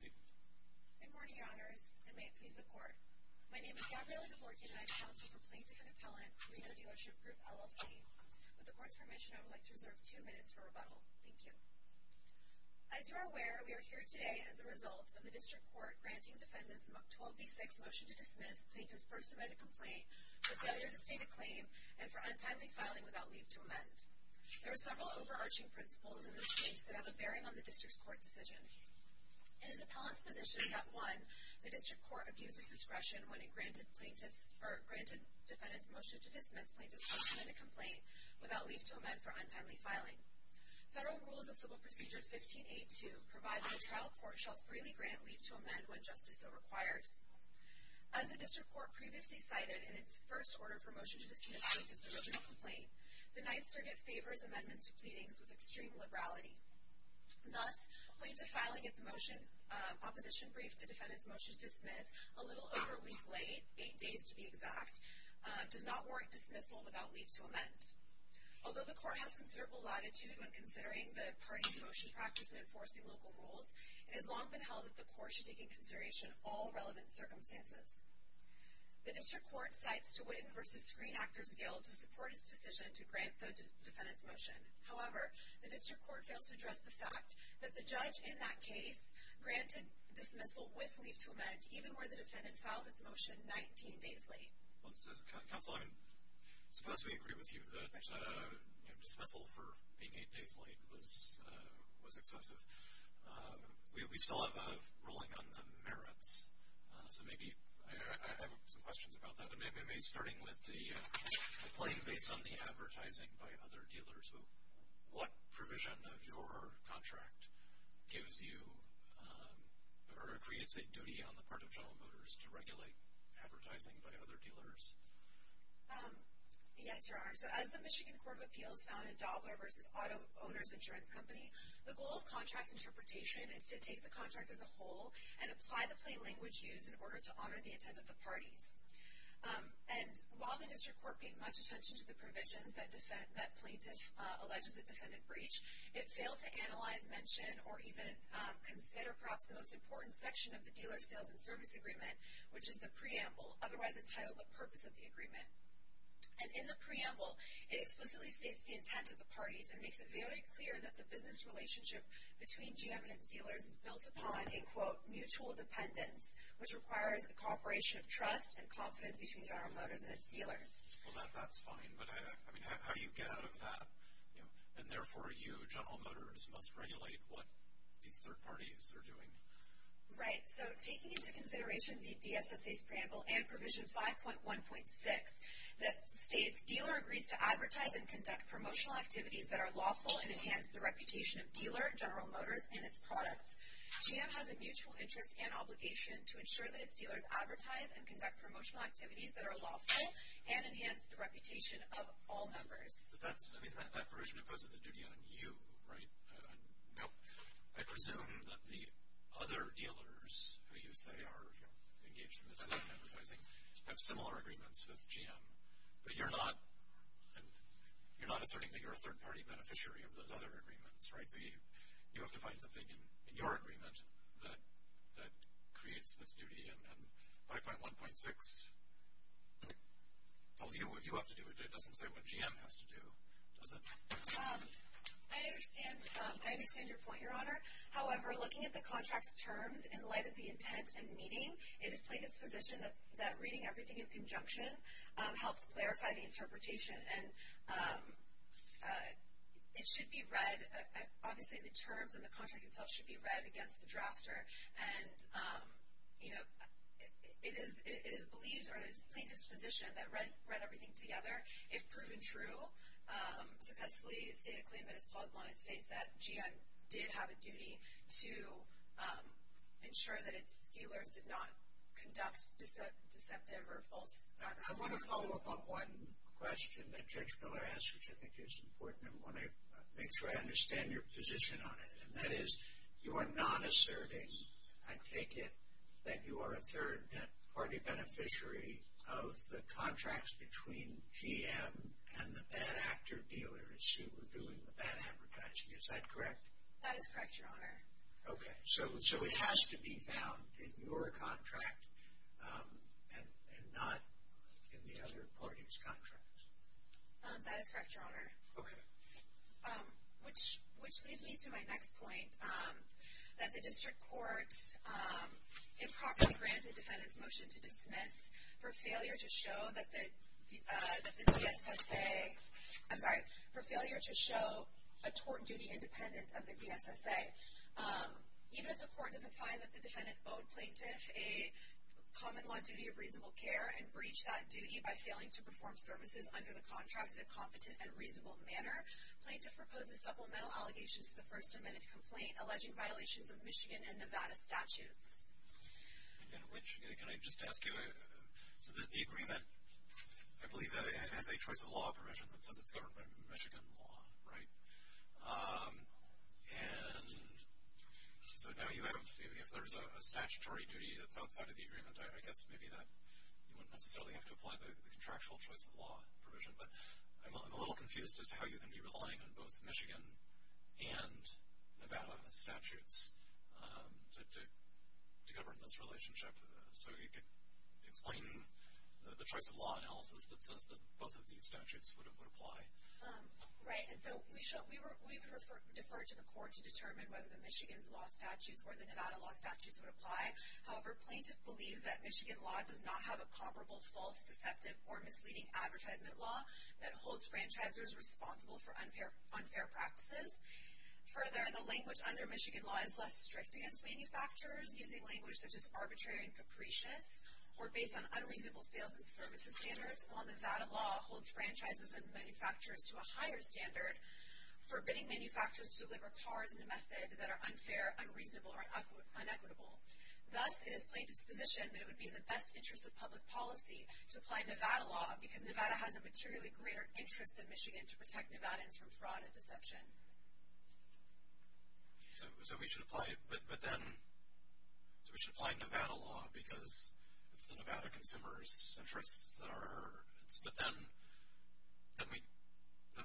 Good morning, Your Honors, and may it please the Court. My name is Gabriella DeVorte and I am counsel for Plaintiff and Appellant, Reno Dealership Group, LLC. With the Court's permission, I would like to reserve two minutes for rebuttal. Thank you. As you are aware, we are here today as a result of the District Court granting defendants Mk 12b-6 motion to dismiss plaintiff's first amended complaint for failure to state a claim and for untimely filing without leave to amend. There are several overarching principles in this case that have a bearing on the District Court decision. It is Appellant's position that 1. The District Court abuses discretion when it granted defendants motion to dismiss plaintiff's first amended complaint without leave to amend for untimely filing. Federal Rules of Civil Procedure 15a-2 provide that a trial court shall freely grant leave to amend when justice so requires. As the District Court previously cited in its first order for motion to dismiss plaintiff's original complaint, the Ninth Circuit favors amendments to pleadings with extreme liberality. Thus, plaintiff filing its opposition brief to defendants motion to dismiss a little over a week late, eight days to be exact, does not warrant dismissal without leave to amend. Although the Court has considerable latitude when considering the party's motion practice in enforcing local rules, it has long been held that the Court should take into consideration all relevant circumstances. The District Court cites DeWitten v. Screen Actors Guild to support its decision to grant the defendants motion. However, the District Court fails to address the fact that the judge in that case granted dismissal with leave to amend even where the defendant filed its motion 19 days late. Counsel, I suppose we agree with you that dismissal for being eight days late was excessive. We still have a ruling on the merits, so maybe I have some questions about that. Maybe starting with the claim based on the advertising by other dealers. What provision of your contract gives you or creates a duty on the part of general voters to regulate advertising by other dealers? Yes, Your Honor. So as the Michigan Court of Appeals found in Dobler v. Auto Owners Insurance Company, the goal of contract interpretation is to take the contract as a whole and apply the plain language used in order to honor the intent of the parties. And while the District Court paid much attention to the provisions that plaintiff alleges the defendant breached, it failed to analyze, mention, or even consider perhaps the most important section of the Dealer Sales and Service Agreement, which is the preamble, otherwise entitled The Purpose of the Agreement. And in the preamble, it explicitly states the intent of the parties and makes it very clear that the business relationship between GM and its dealers is built upon, in quote, mutual dependence, which requires a cooperation of trust and confidence between General Motors and its dealers. Well, that's fine, but how do you get out of that? And therefore, you, General Motors, must regulate what these third parties are doing. Right. So taking into consideration the DSSA's preamble and Provision 5.1.6 that states, if a dealer agrees to advertise and conduct promotional activities that are lawful and enhance the reputation of dealer, General Motors, and its product, GM has a mutual interest and obligation to ensure that its dealers advertise and conduct promotional activities that are lawful and enhance the reputation of all members. But that's, I mean, that provision imposes a duty on you, right? No, I presume that the other dealers who you say are engaged in this type of advertising have similar agreements with GM. But you're not asserting that you're a third-party beneficiary of those other agreements, right? So you have to find something in your agreement that creates this duty. And 5.1.6 tells you what you have to do. It doesn't say what GM has to do, does it? I understand your point, Your Honor. However, looking at the contract's terms, in light of the intent and meaning, it is plain disposition that reading everything in conjunction helps clarify the interpretation. And it should be read, obviously the terms and the contract itself should be read against the drafter. And, you know, it is believed or it is plain disposition that read everything together, if proven true, successfully state a claim that is plausible on its face that GM did have a duty to ensure that its dealers did not conduct deceptive or false advertising. I want to follow up on one question that Judge Miller asked, which I think is important. I want to make sure I understand your position on it. And that is you are not asserting, I take it, that you are a third-party beneficiary of the contracts between GM and the bad actor dealers who were doing the bad advertising. Is that correct? That is correct, Your Honor. Okay. So it has to be found in your contract and not in the other parties' contracts? That is correct, Your Honor. Okay. Which leads me to my next point, that the district court improperly granted defendants' motion to dismiss for failure to show that the DSSA, I'm sorry, for failure to show a tort duty independent of the DSSA. Even if the court doesn't find that the defendant owed plaintiff a common law duty of reasonable care and breached that duty by failing to perform services under the contract in a competent and reasonable manner, plaintiff proposes supplemental allegations to the First Amendment complaint alleging violations of Michigan and Nevada statutes. And which, can I just ask you, so the agreement, I believe, has a choice of law provision that says it's governed by Michigan law, right? And so now you have, if there's a statutory duty that's outside of the agreement, I guess maybe you wouldn't necessarily have to apply the contractual choice of law provision. But I'm a little confused as to how you can be relying on both Michigan and Nevada statutes to govern this relationship. So you could explain the choice of law analysis that says that both of these statutes would apply. Right. And so we would defer to the court to determine whether the Michigan law statutes or the Nevada law statutes would apply. However, plaintiff believes that Michigan law does not have a comparable false, deceptive, or misleading advertisement law that holds franchisers responsible for unfair practices. Further, the language under Michigan law is less strict against manufacturers, using language such as arbitrary and capricious, or based on unreasonable sales and services standards, while Nevada law holds franchisers and manufacturers to a higher standard, forbidding manufacturers to deliver cars in a method that are unfair, unreasonable, or inequitable. Thus, it is plaintiff's position that it would be in the best interest of public policy to apply Nevada law because Nevada has a materially greater interest than Michigan to protect Nevadans from fraud and deception. So we should apply Nevada law because it's the Nevada consumers' interests that are... But then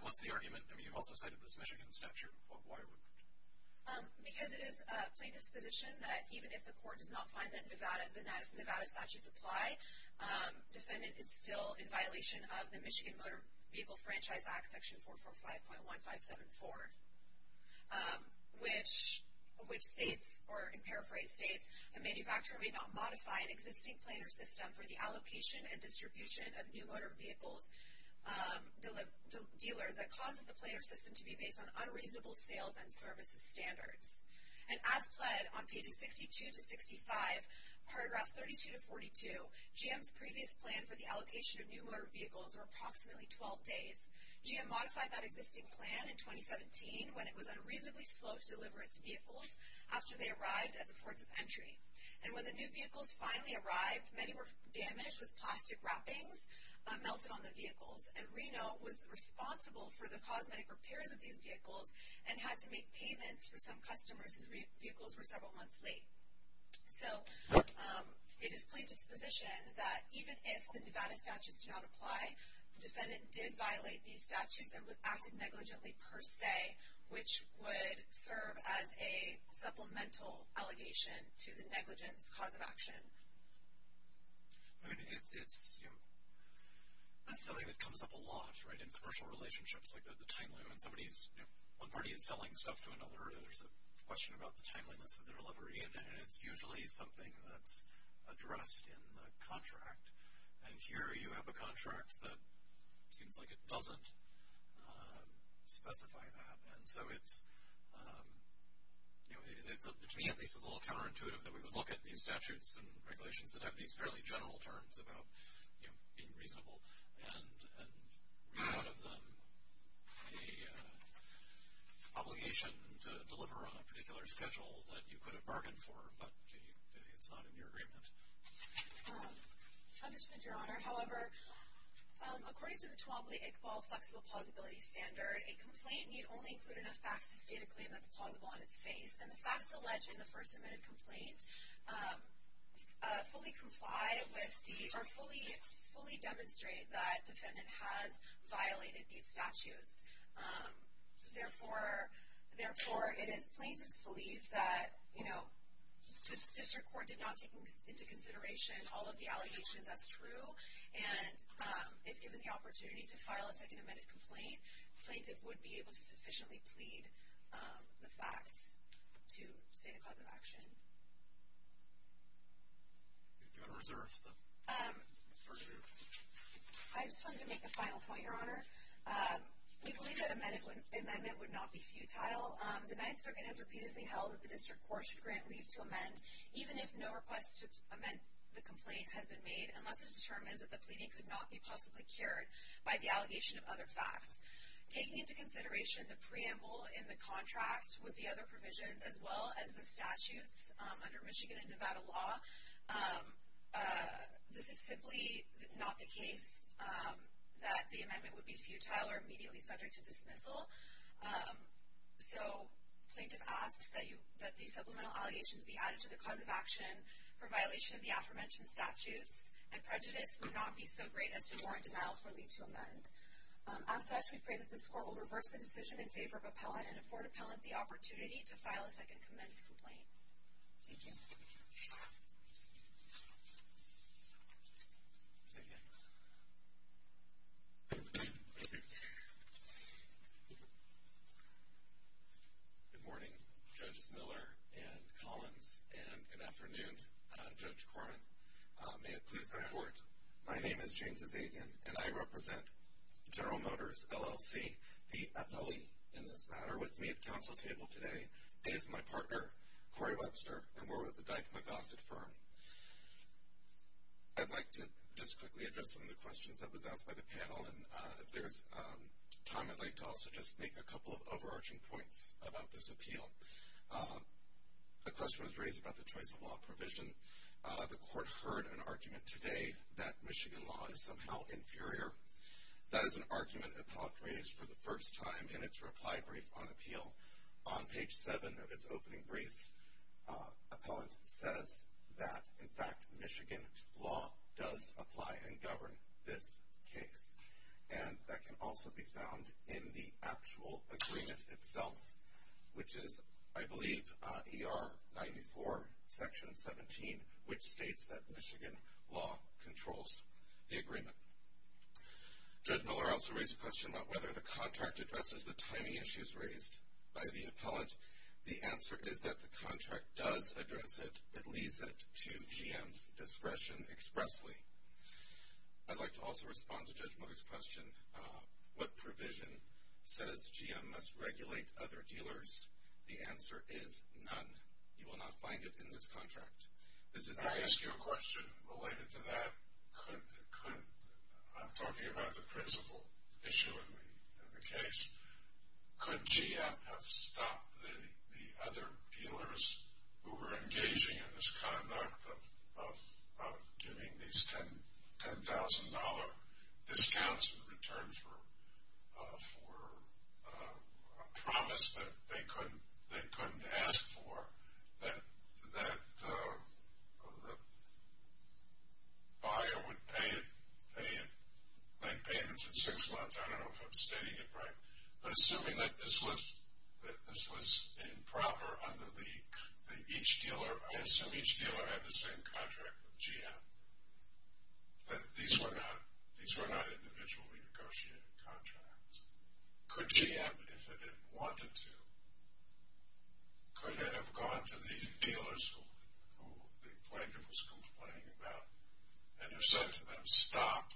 what's the argument? I mean, you've also cited this Michigan statute. Why would... Because it is plaintiff's position that even if the court does not find that the Nevada statutes apply, defendant is still in violation of the Michigan Motor Vehicle Franchise Act, section 445.1574, which states, or in paraphrase states, a manufacturer may not modify an existing planer system for the allocation and distribution of new motor vehicles to dealers that causes the planer system to be based on unreasonable sales and services standards. And as pled on pages 62 to 65, paragraphs 32 to 42, GM's previous plan for the allocation of new motor vehicles were approximately 12 days. GM modified that existing plan in 2017 when it was unreasonably slow to deliver its vehicles after they arrived at the ports of entry. And when the new vehicles finally arrived, many were damaged with plastic wrappings melted on the vehicles, and Reno was responsible for the cosmetic repairs of these vehicles and had to make payments for some customers whose vehicles were several months late. So, it is plaintiff's position that even if the Nevada statutes do not apply, defendant did violate these statutes and acted negligently per se, which would serve as a supplemental allegation to the negligence cause of action. I mean, it's, you know, this is something that comes up a lot, right, in commercial relationships, like the time limit when somebody's, you know, one party is selling stuff to another and there's a question about the timeliness of the delivery, and it's usually something that's addressed in the contract. And here you have a contract that seems like it doesn't specify that. And so it's, you know, to me at least it's a little counterintuitive that we would look at these statutes and regulations that have these fairly general terms about, you know, being reasonable and read out of them an obligation to deliver on a particular schedule that you could have bargained for, but it's not in your agreement. I understand, Your Honor. However, according to the Twombly-Iqbal flexible plausibility standard, a complaint need only include enough facts to state a claim that's plausible on its face, and the facts alleged in the first amended complaint fully demonstrate that defendant has violated these statutes. Therefore, it is plaintiff's belief that, you know, the district court did not take into consideration all of the allegations as true, and if given the opportunity to file a second amended complaint, plaintiff would be able to sufficiently plead the facts to state a cause of action. Do you want to reserve? I just wanted to make a final point, Your Honor. We believe that a medical amendment would not be futile. The Ninth Circuit has repeatedly held that the district court should grant leave to amend, even if no request to amend the complaint has been made, unless it determines that the pleading could not be possibly cured by the allegation of other facts. Taking into consideration the preamble in the contract with the other provisions, as well as the statutes under Michigan and Nevada law, this is simply not the case that the amendment would be futile or immediately subject to dismissal. So plaintiff asks that the supplemental allegations be added to the cause of action for violation of the aforementioned statutes, and prejudice would not be so great as to warrant denial for leave to amend. As such, we pray that this court will reverse the decision in favor of appellant and afford appellant the opportunity to file a second amended complaint. Thank you. Good morning, Judges Miller and Collins, and good afternoon, Judge Corman. May it please the Court, my name is James Azadian, and I represent General Motors, LLC, the appellee in this matter with me at counsel table today is my partner, Corey Webster, and we're with the Dyke-McGossett firm. I'd like to just quickly address some of the questions that was asked by the panel, and if there's time, I'd like to also just make a couple of overarching points about this appeal. A question was raised about the choice of law provision. The court heard an argument today that Michigan law is somehow inferior. That is an argument appellant raised for the first time in its reply brief on appeal. On page 7 of its opening brief, appellant says that, in fact, Michigan law does apply and govern this case, and that can also be found in the actual agreement itself, which is, I believe, ER 94, Section 17, which states that Michigan law controls the agreement. Judge Miller also raised a question about whether the contract addresses the timing issues raised by the appellant. The answer is that the contract does address it. It leads it to GM's discretion expressly. I'd like to also respond to Judge Miller's question, what provision says GM must regulate other dealers? The answer is none. You will not find it in this contract. Can I ask you a question related to that? I'm talking about the principal issue in the case. Could GM have stopped the other dealers who were engaging in this conduct of giving these $10,000 discounts in return for a promise that they couldn't ask for, that the buyer would pay it like payments in six months? I don't know if I'm stating it right. But assuming that this was improper under the, that each dealer, I assume each dealer had the same contract with GM, that these were not individually negotiated contracts. Could GM, if it had wanted to, could it have gone to these dealers who the plaintiff was complaining about and have said to them, stop,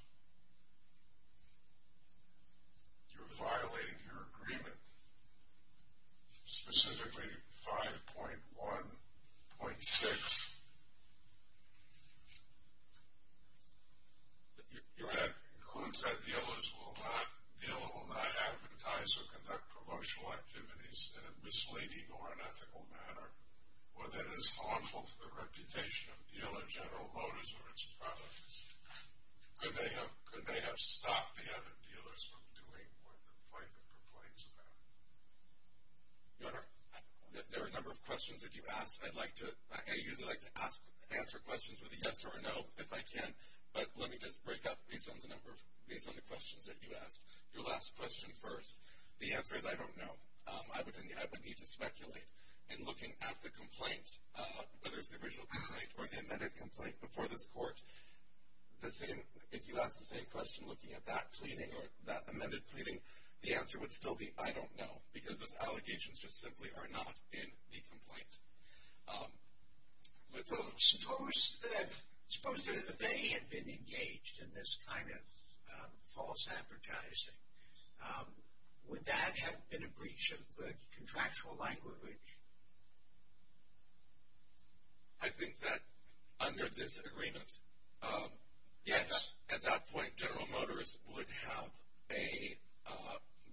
you're violating your agreement, specifically 5.1.6. That includes that dealers will not advertise or conduct promotional activities in a misleading or unethical manner or that is harmful to the reputation of dealer General Motors or its products. Could they have stopped the other dealers from doing what the plaintiff complains about? Your Honor, there are a number of questions that you asked. I'd like to, I usually like to ask, answer questions with a yes or a no if I can. But let me just break up based on the number of, based on the questions that you asked. Your last question first. The answer is I don't know. I would need to speculate in looking at the complaint, whether it's the original complaint or the amended complaint before this court. The same, if you ask the same question looking at that pleading or that amended pleading, the answer would still be I don't know. Because those allegations just simply are not in the complaint. Suppose that they had been engaged in this kind of false advertising. Would that have been a breach of the contractual language? I think that under this agreement, yes. At that point, General Motors would have a,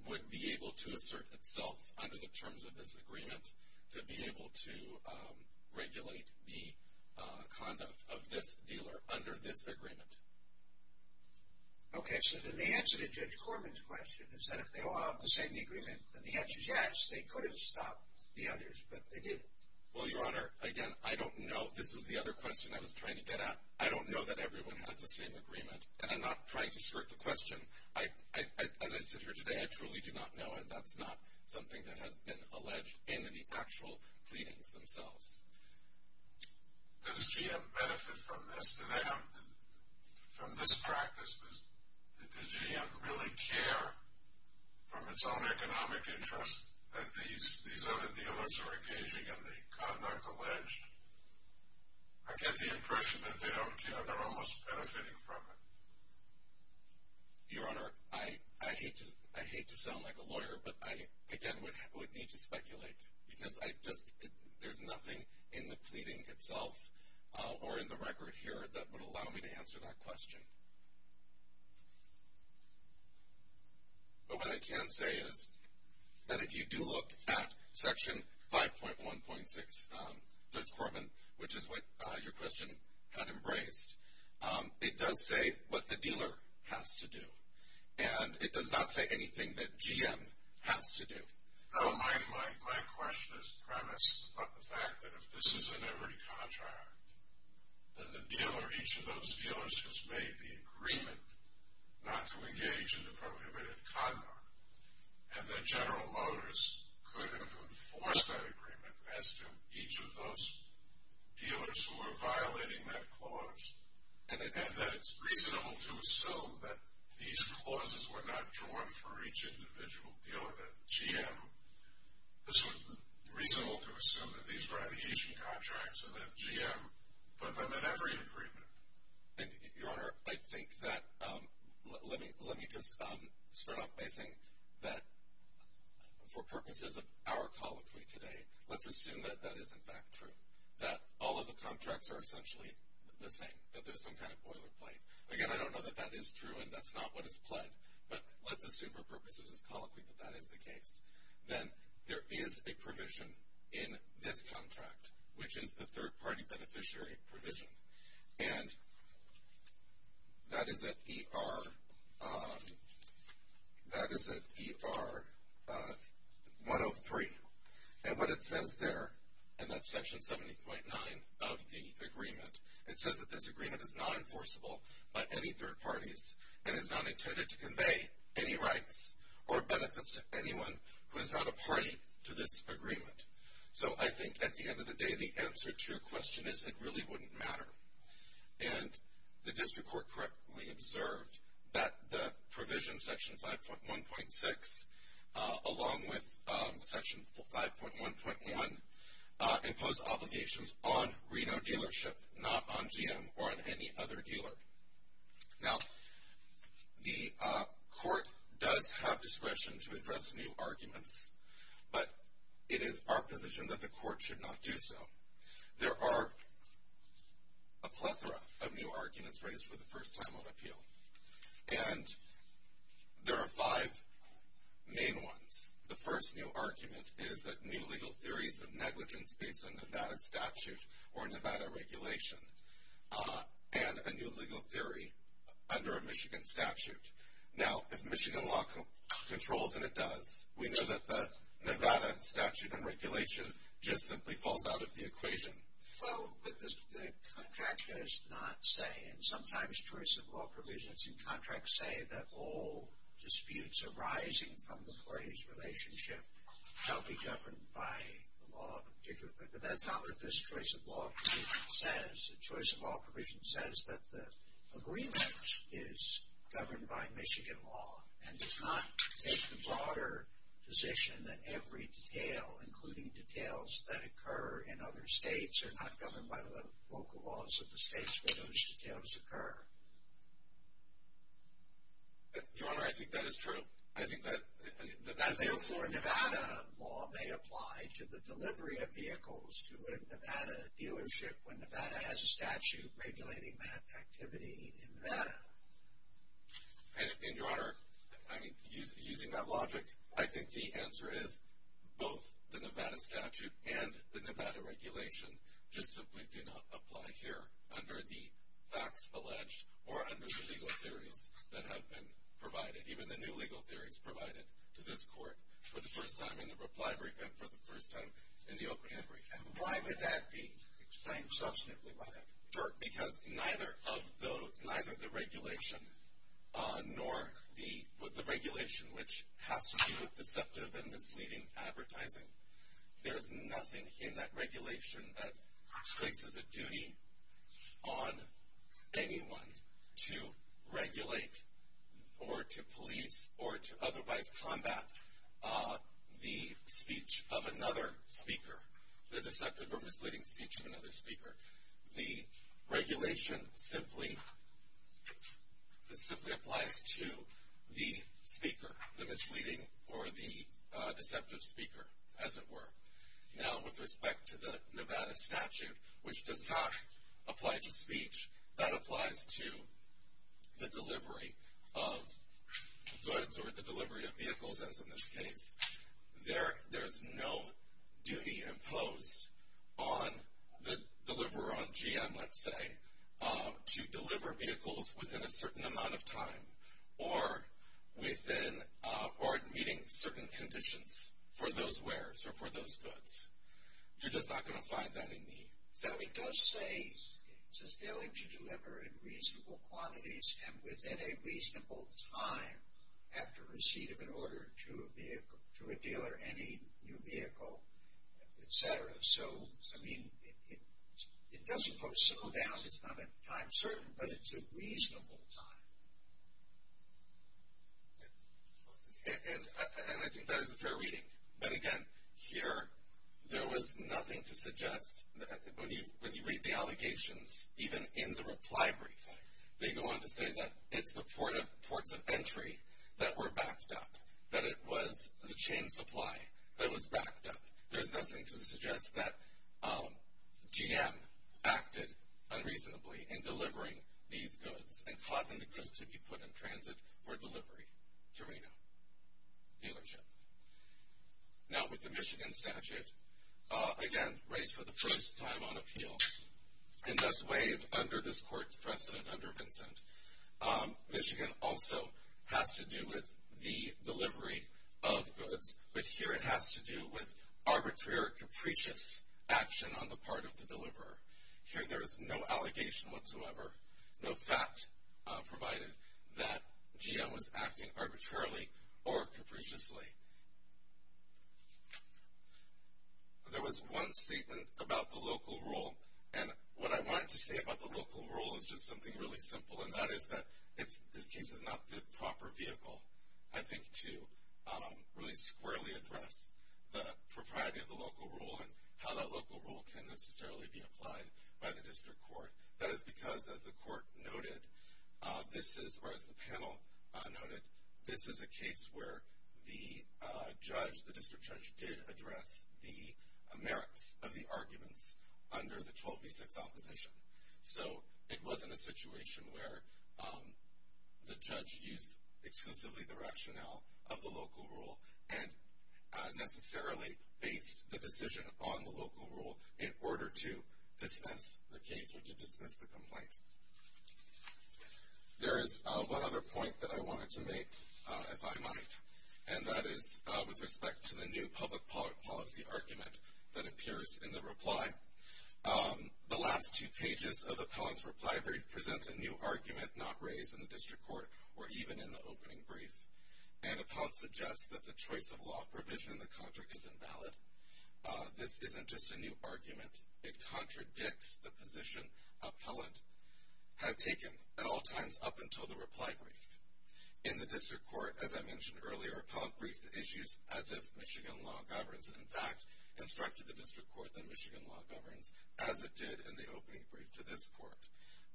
would be able to assert itself under the terms of this agreement to be able to regulate the conduct of this dealer under this agreement. Okay. So then the answer to Judge Corman's question is that if they all have the same agreement, and the answer is yes, they could have stopped the others, but they didn't. Well, Your Honor, again, I don't know. This was the other question I was trying to get at. I don't know that everyone has the same agreement. And I'm not trying to skirt the question. I, as I sit here today, I truly do not know. And that's not something that has been alleged in the actual pleadings themselves. Does GM benefit from this? To them, from this practice, does GM really care from its own economic interest that these other dealers are engaging in the conduct alleged? I get the impression that they don't care. They're almost benefiting from it. Your Honor, I hate to sound like a lawyer, but I, again, would need to speculate. Because I just, there's nothing in the pleading itself or in the record here that would allow me to answer that question. But what I can say is that if you do look at Section 5.1.6, Judge Corman, which is what your question had embraced, it does say what the dealer has to do. And it does not say anything that GM has to do. No, my question is premised upon the fact that if this is in every contract, then the dealer, each of those dealers has made the agreement not to engage in the prohibited conduct, and that General Motors could have enforced that agreement as to each of those dealers who are violating that clause, and that it's reasonable to assume that these clauses were not drawn for each individual dealer, that GM, this was reasonable to assume that these were aviation contracts and that GM put them in every agreement. Your Honor, I think that, let me just start off by saying that for purposes of our colloquy today, let's assume that that is in fact true, that all of the contracts are essentially the same, that there's some kind of boilerplate. Again, I don't know that that is true and that's not what is pled, but let's assume for purposes of this colloquy that that is the case. Then there is a provision in this contract, which is the third-party beneficiary provision. And that is at ER 103. And what it says there, and that's Section 70.9 of the agreement, it says that this agreement is not enforceable by any third parties and is not intended to convey any rights or benefits to anyone who is not a party to this agreement. So I think at the end of the day, the answer to your question is it really wouldn't matter. And the district court correctly observed that the provision, Section 5.1.6, along with Section 5.1.1 impose obligations on Reno dealership, not on GM or on any other dealer. Now, the court does have discretion to address new arguments, but it is our position that the court should not do so. There are a plethora of new arguments raised for the first time on appeal. And there are five main ones. The first new argument is that new legal theories of negligence based on Nevada statute or Nevada regulation and a new legal theory under a Michigan statute. Now, if Michigan law controls and it does, we know that the Nevada statute and regulation just simply falls out of the equation. Well, but the contract does not say, and sometimes choice of law provisions in contracts say, that all disputes arising from the parties' relationship shall be governed by the law. But that's not what this choice of law provision says. The choice of law provision says that the agreement is governed by Michigan law and does not take the broader position that every detail, including details that occur in other states, are not governed by the local laws of the states where those details occur. Your Honor, I think that is true. Therefore, Nevada law may apply to the delivery of vehicles to a Nevada dealership when Nevada has a statute regulating that activity in Nevada. And, Your Honor, using that logic, I think the answer is both the Nevada statute and the Nevada regulation just simply do not apply here under the facts alleged or under the legal theories that have been provided. Even the new legal theories provided to this court for the first time in the reply brief and for the first time in the O'Brien brief. And why would that be explained substantively by that? Because neither of the, neither the regulation nor the, the regulation which has to do with deceptive and misleading advertising, there's nothing in that regulation that places a duty on anyone to regulate or to police or to otherwise combat the speech of another speaker, the deceptive or misleading speech of another speaker. The regulation simply, simply applies to the speaker, the misleading or the deceptive speaker, as it were. Now, with respect to the Nevada statute, which does not apply to speech, that applies to the delivery of goods or the delivery of vehicles, as in this case. There's no duty imposed on the deliverer, on GM, let's say, to deliver vehicles within a certain amount of time or within, or meeting certain conditions for those wares or for those goods. You're just not going to find that in the statute. It does say, it says, failing to deliver in reasonable quantities and within a reasonable time after receipt of an order to a vehicle, to a dealer, any new vehicle, etc. So, I mean, it doesn't go so down, it's not a time certain, but it's a reasonable time. And I think that is a fair reading. But again, here, there was nothing to suggest, when you read the allegations, even in the reply brief, they go on to say that it's the ports of entry that were backed up, that it was the chain supply that was backed up. There's nothing to suggest that GM acted unreasonably in delivering these goods and causing the goods to be put in transit for delivery to Reno dealership. Now, with the Michigan statute, again, raised for the first time on appeal, and thus waived under this court's precedent under Vincent. Michigan also has to do with the delivery of goods, but here it has to do with arbitrary or capricious action on the part of the deliverer. Here there is no allegation whatsoever, no fact provided, that GM was acting arbitrarily or capriciously. There was one statement about the local rule, and what I wanted to say about the local rule is just something really simple, and that is that this case is not the proper vehicle, I think, to really squarely address the propriety of the local rule and how that local rule can necessarily be applied by the district court. That is because, as the court noted, or as the panel noted, this is a case where the judge, the district judge, did address the merits of the arguments under the 1286 opposition. So it wasn't a situation where the judge used exclusively the rationale of the local rule and necessarily based the decision on the local rule in order to dismiss the case or to dismiss the complaint. There is one other point that I wanted to make, if I might, and that is with respect to the new public policy argument that appears in the reply. The last two pages of Appellant's reply brief presents a new argument not raised in the district court or even in the opening brief, and Appellant suggests that the choice of law provision in the contract is invalid. This isn't just a new argument. It contradicts the position Appellant has taken at all times up until the reply brief. In the district court, as I mentioned earlier, Appellant briefed the issues as if Michigan law governs, and, in fact, instructed the district court that Michigan law governs, as it did in the opening brief to this court.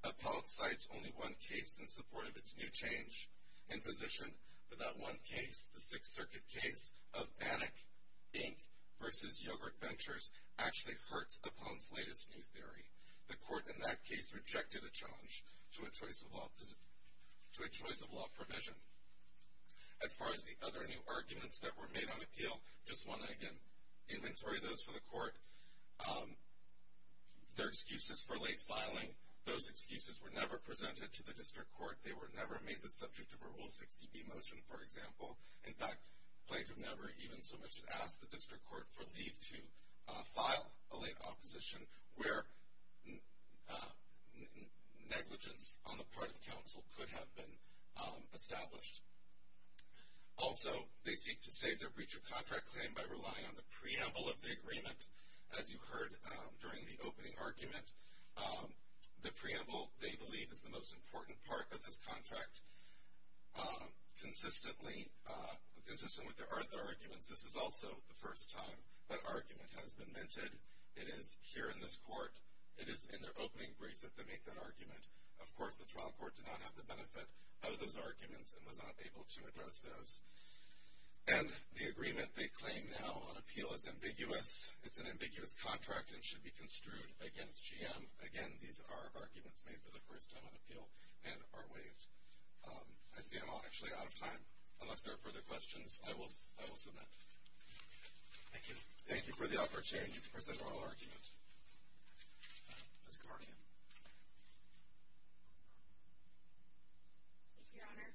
Appellant cites only one case in support of its new change in position, but that one case, the Sixth Circuit case of Bannock, Inc. v. Yogurt Ventures, actually hurts Appellant's latest new theory. The court in that case rejected a challenge to a choice of law provision. As far as the other new arguments that were made on appeal, their excuses for late filing, those excuses were never presented to the district court. They were never made the subject of a Rule 60B motion, for example. In fact, plaintiff never even so much as asked the district court for leave to file a late opposition where negligence on the part of counsel could have been established. Also, they seek to save their breach of contract claim by relying on the preamble of the agreement, as you heard during the opening argument. The preamble, they believe, is the most important part of this contract. Consistently with their other arguments, this is also the first time that argument has been mentioned. It is here in this court, it is in their opening brief that they make that argument. Of course, the trial court did not have the benefit of those arguments and was not able to address those. And the agreement they claim now on appeal is ambiguous. It's an ambiguous contract and should be construed against GM. Again, these are arguments made for the first time on appeal and are waived. I see I'm actually out of time. Unless there are further questions, I will submit. Thank you for the opportunity to present our argument. Ms. Karkin. Thank you, Your Honor.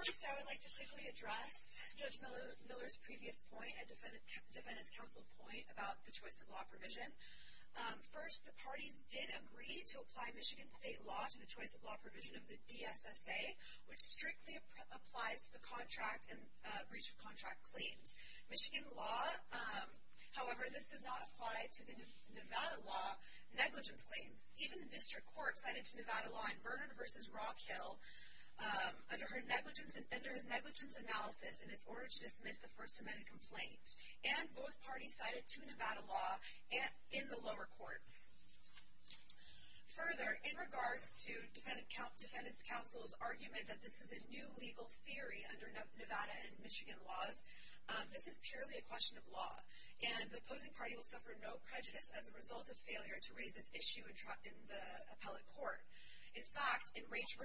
First, I would like to quickly address Judge Miller's previous point, a Defendant's Counsel point about the choice of law provision. First, the parties did agree to apply Michigan state law to the choice of law provision of the DSSA, which strictly applies to the contract and breach of contract claims. Michigan law, however, this does not apply to the Nevada law negligence claims. Even the district court cited to Nevada law in Vernon v. Rockhill under his negligence analysis in its order to dismiss the First Amendment complaint. And both parties cited to Nevada law in the lower courts. Further, in regards to Defendant's Counsel's argument that this is a new legal theory under Nevada and Michigan laws, this is purely a question of law. And the opposing party will suffer no prejudice as a result of failure to raise this issue in the appellate court. In fact, in Raich v.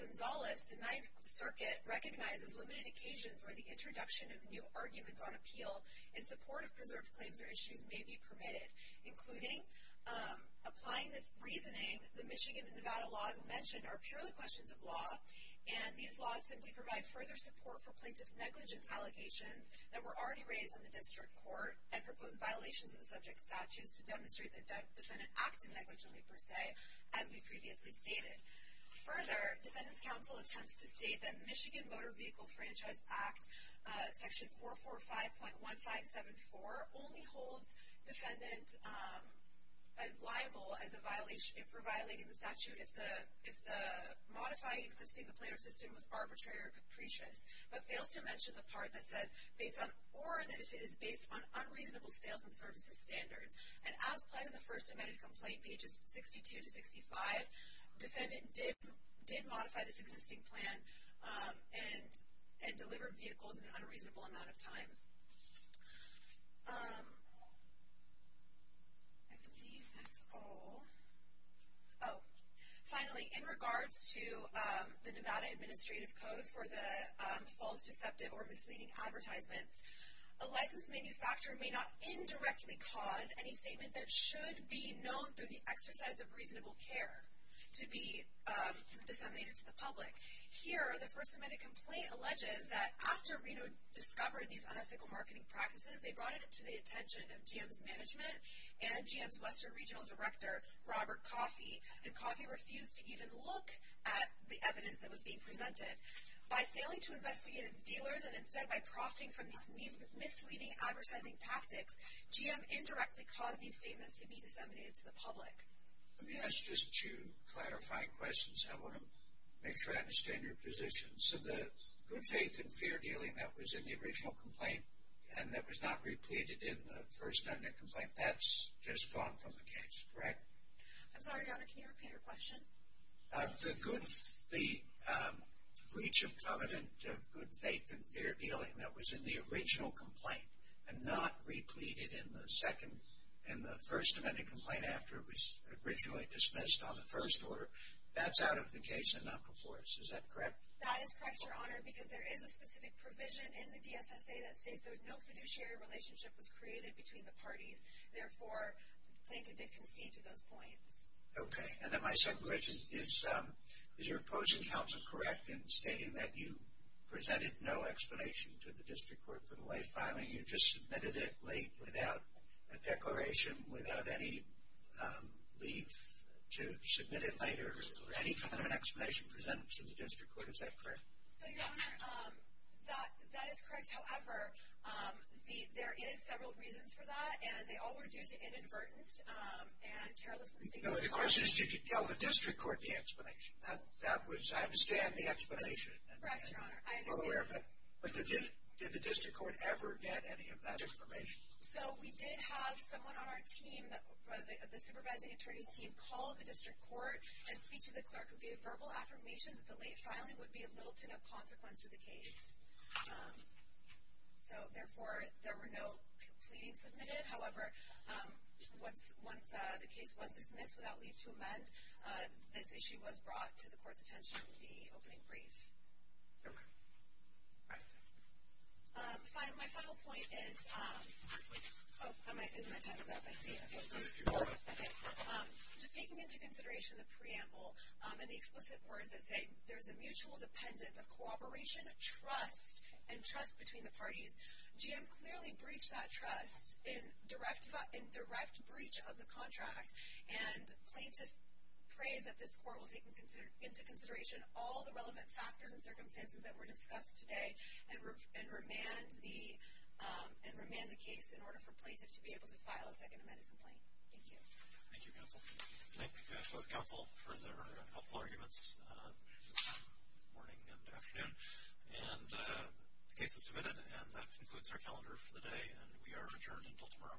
Gonzalez, the Ninth Circuit recognizes limited occasions where the introduction of new arguments on appeal in support of preserved claims or issues may be permitted. Including applying this reasoning, the Michigan and Nevada laws mentioned are purely questions of law, and these laws simply provide further support for plaintiff's negligence allocations that were already raised in the district court and proposed violations of the subject statutes to demonstrate the defendant acted negligently per se, as we previously stated. Further, Defendant's Counsel attempts to state that Michigan Motor Vehicle Franchise Act, section 445.1574, only holds defendant liable for violating the statute if the modifying existing complainant system was arbitrary or capricious, but fails to mention the part that says, or if it is based on unreasonable sales and services standards. And as planned in the first amended complaint, pages 62 to 65, defendant did modify this existing plan and delivered vehicles in an unreasonable amount of time. I believe that's all. Oh, finally, in regards to the Nevada Administrative Code for the False, Deceptive, or Misleading Advertisements, a licensed manufacturer may not indirectly cause any statement that should be known through the exercise of reasonable care to be disseminated to the public. Here, the first amended complaint alleges that after Reno discovered these unethical marketing practices, they brought it to the attention of GM's management and GM's Western Regional Director, Robert Coffey. And Coffey refused to even look at the evidence that was being presented. By failing to investigate its dealers, and instead by profiting from these misleading advertising tactics, GM indirectly caused these statements to be disseminated to the public. Let me ask just two clarifying questions. I want to make sure I understand your position. So the good faith and fair dealing that was in the original complaint and that was not repleted in the first amended complaint, that's just gone from the case, correct? I'm sorry, Your Honor, can you repeat your question? The breach of covenant of good faith and fair dealing that was in the original complaint and not repleted in the first amended complaint after it was originally dismissed on the first order, that's out of the case and not before us, is that correct? That is correct, Your Honor, because there is a specific provision in the DSSA that states that no fiduciary relationship was created between the parties. Therefore, plaintiff did concede to those points. Okay, and then my second question is, is your opposing counsel correct in stating that you presented no explanation to the district court for the lay filing, you just submitted it late without a declaration, without any leave to submit it later, or any kind of an explanation presented to the district court, is that correct? So, Your Honor, that is correct. However, there is several reasons for that, and they all were due to inadvertence. The question is, did you tell the district court the explanation? That was, I understand the explanation. Correct, Your Honor. But did the district court ever get any of that information? So, we did have someone on our team, the supervising attorney's team, call the district court and speak to the clerk who gave verbal affirmations that the lay filing would be of little to no consequence to the case. So, therefore, there were no pleadings submitted. However, once the case was dismissed without leave to amend, this issue was brought to the court's attention in the opening brief. Okay. My final point is, oh, my time is up, I see. Just taking into consideration the preamble and the explicit words that say, there's a mutual dependence of cooperation, trust, and trust between the parties, GM clearly breached that trust in direct breach of the contract, and plaintiff prays that this court will take into consideration all the relevant factors and circumstances that were discussed today and remand the case in order for plaintiff to be able to file a second amended complaint. Thank you. Thank you, counsel. Thank you both, counsel, for their helpful arguments this morning and afternoon. And the case is submitted, and that concludes our calendar for the day, and we are adjourned until tomorrow.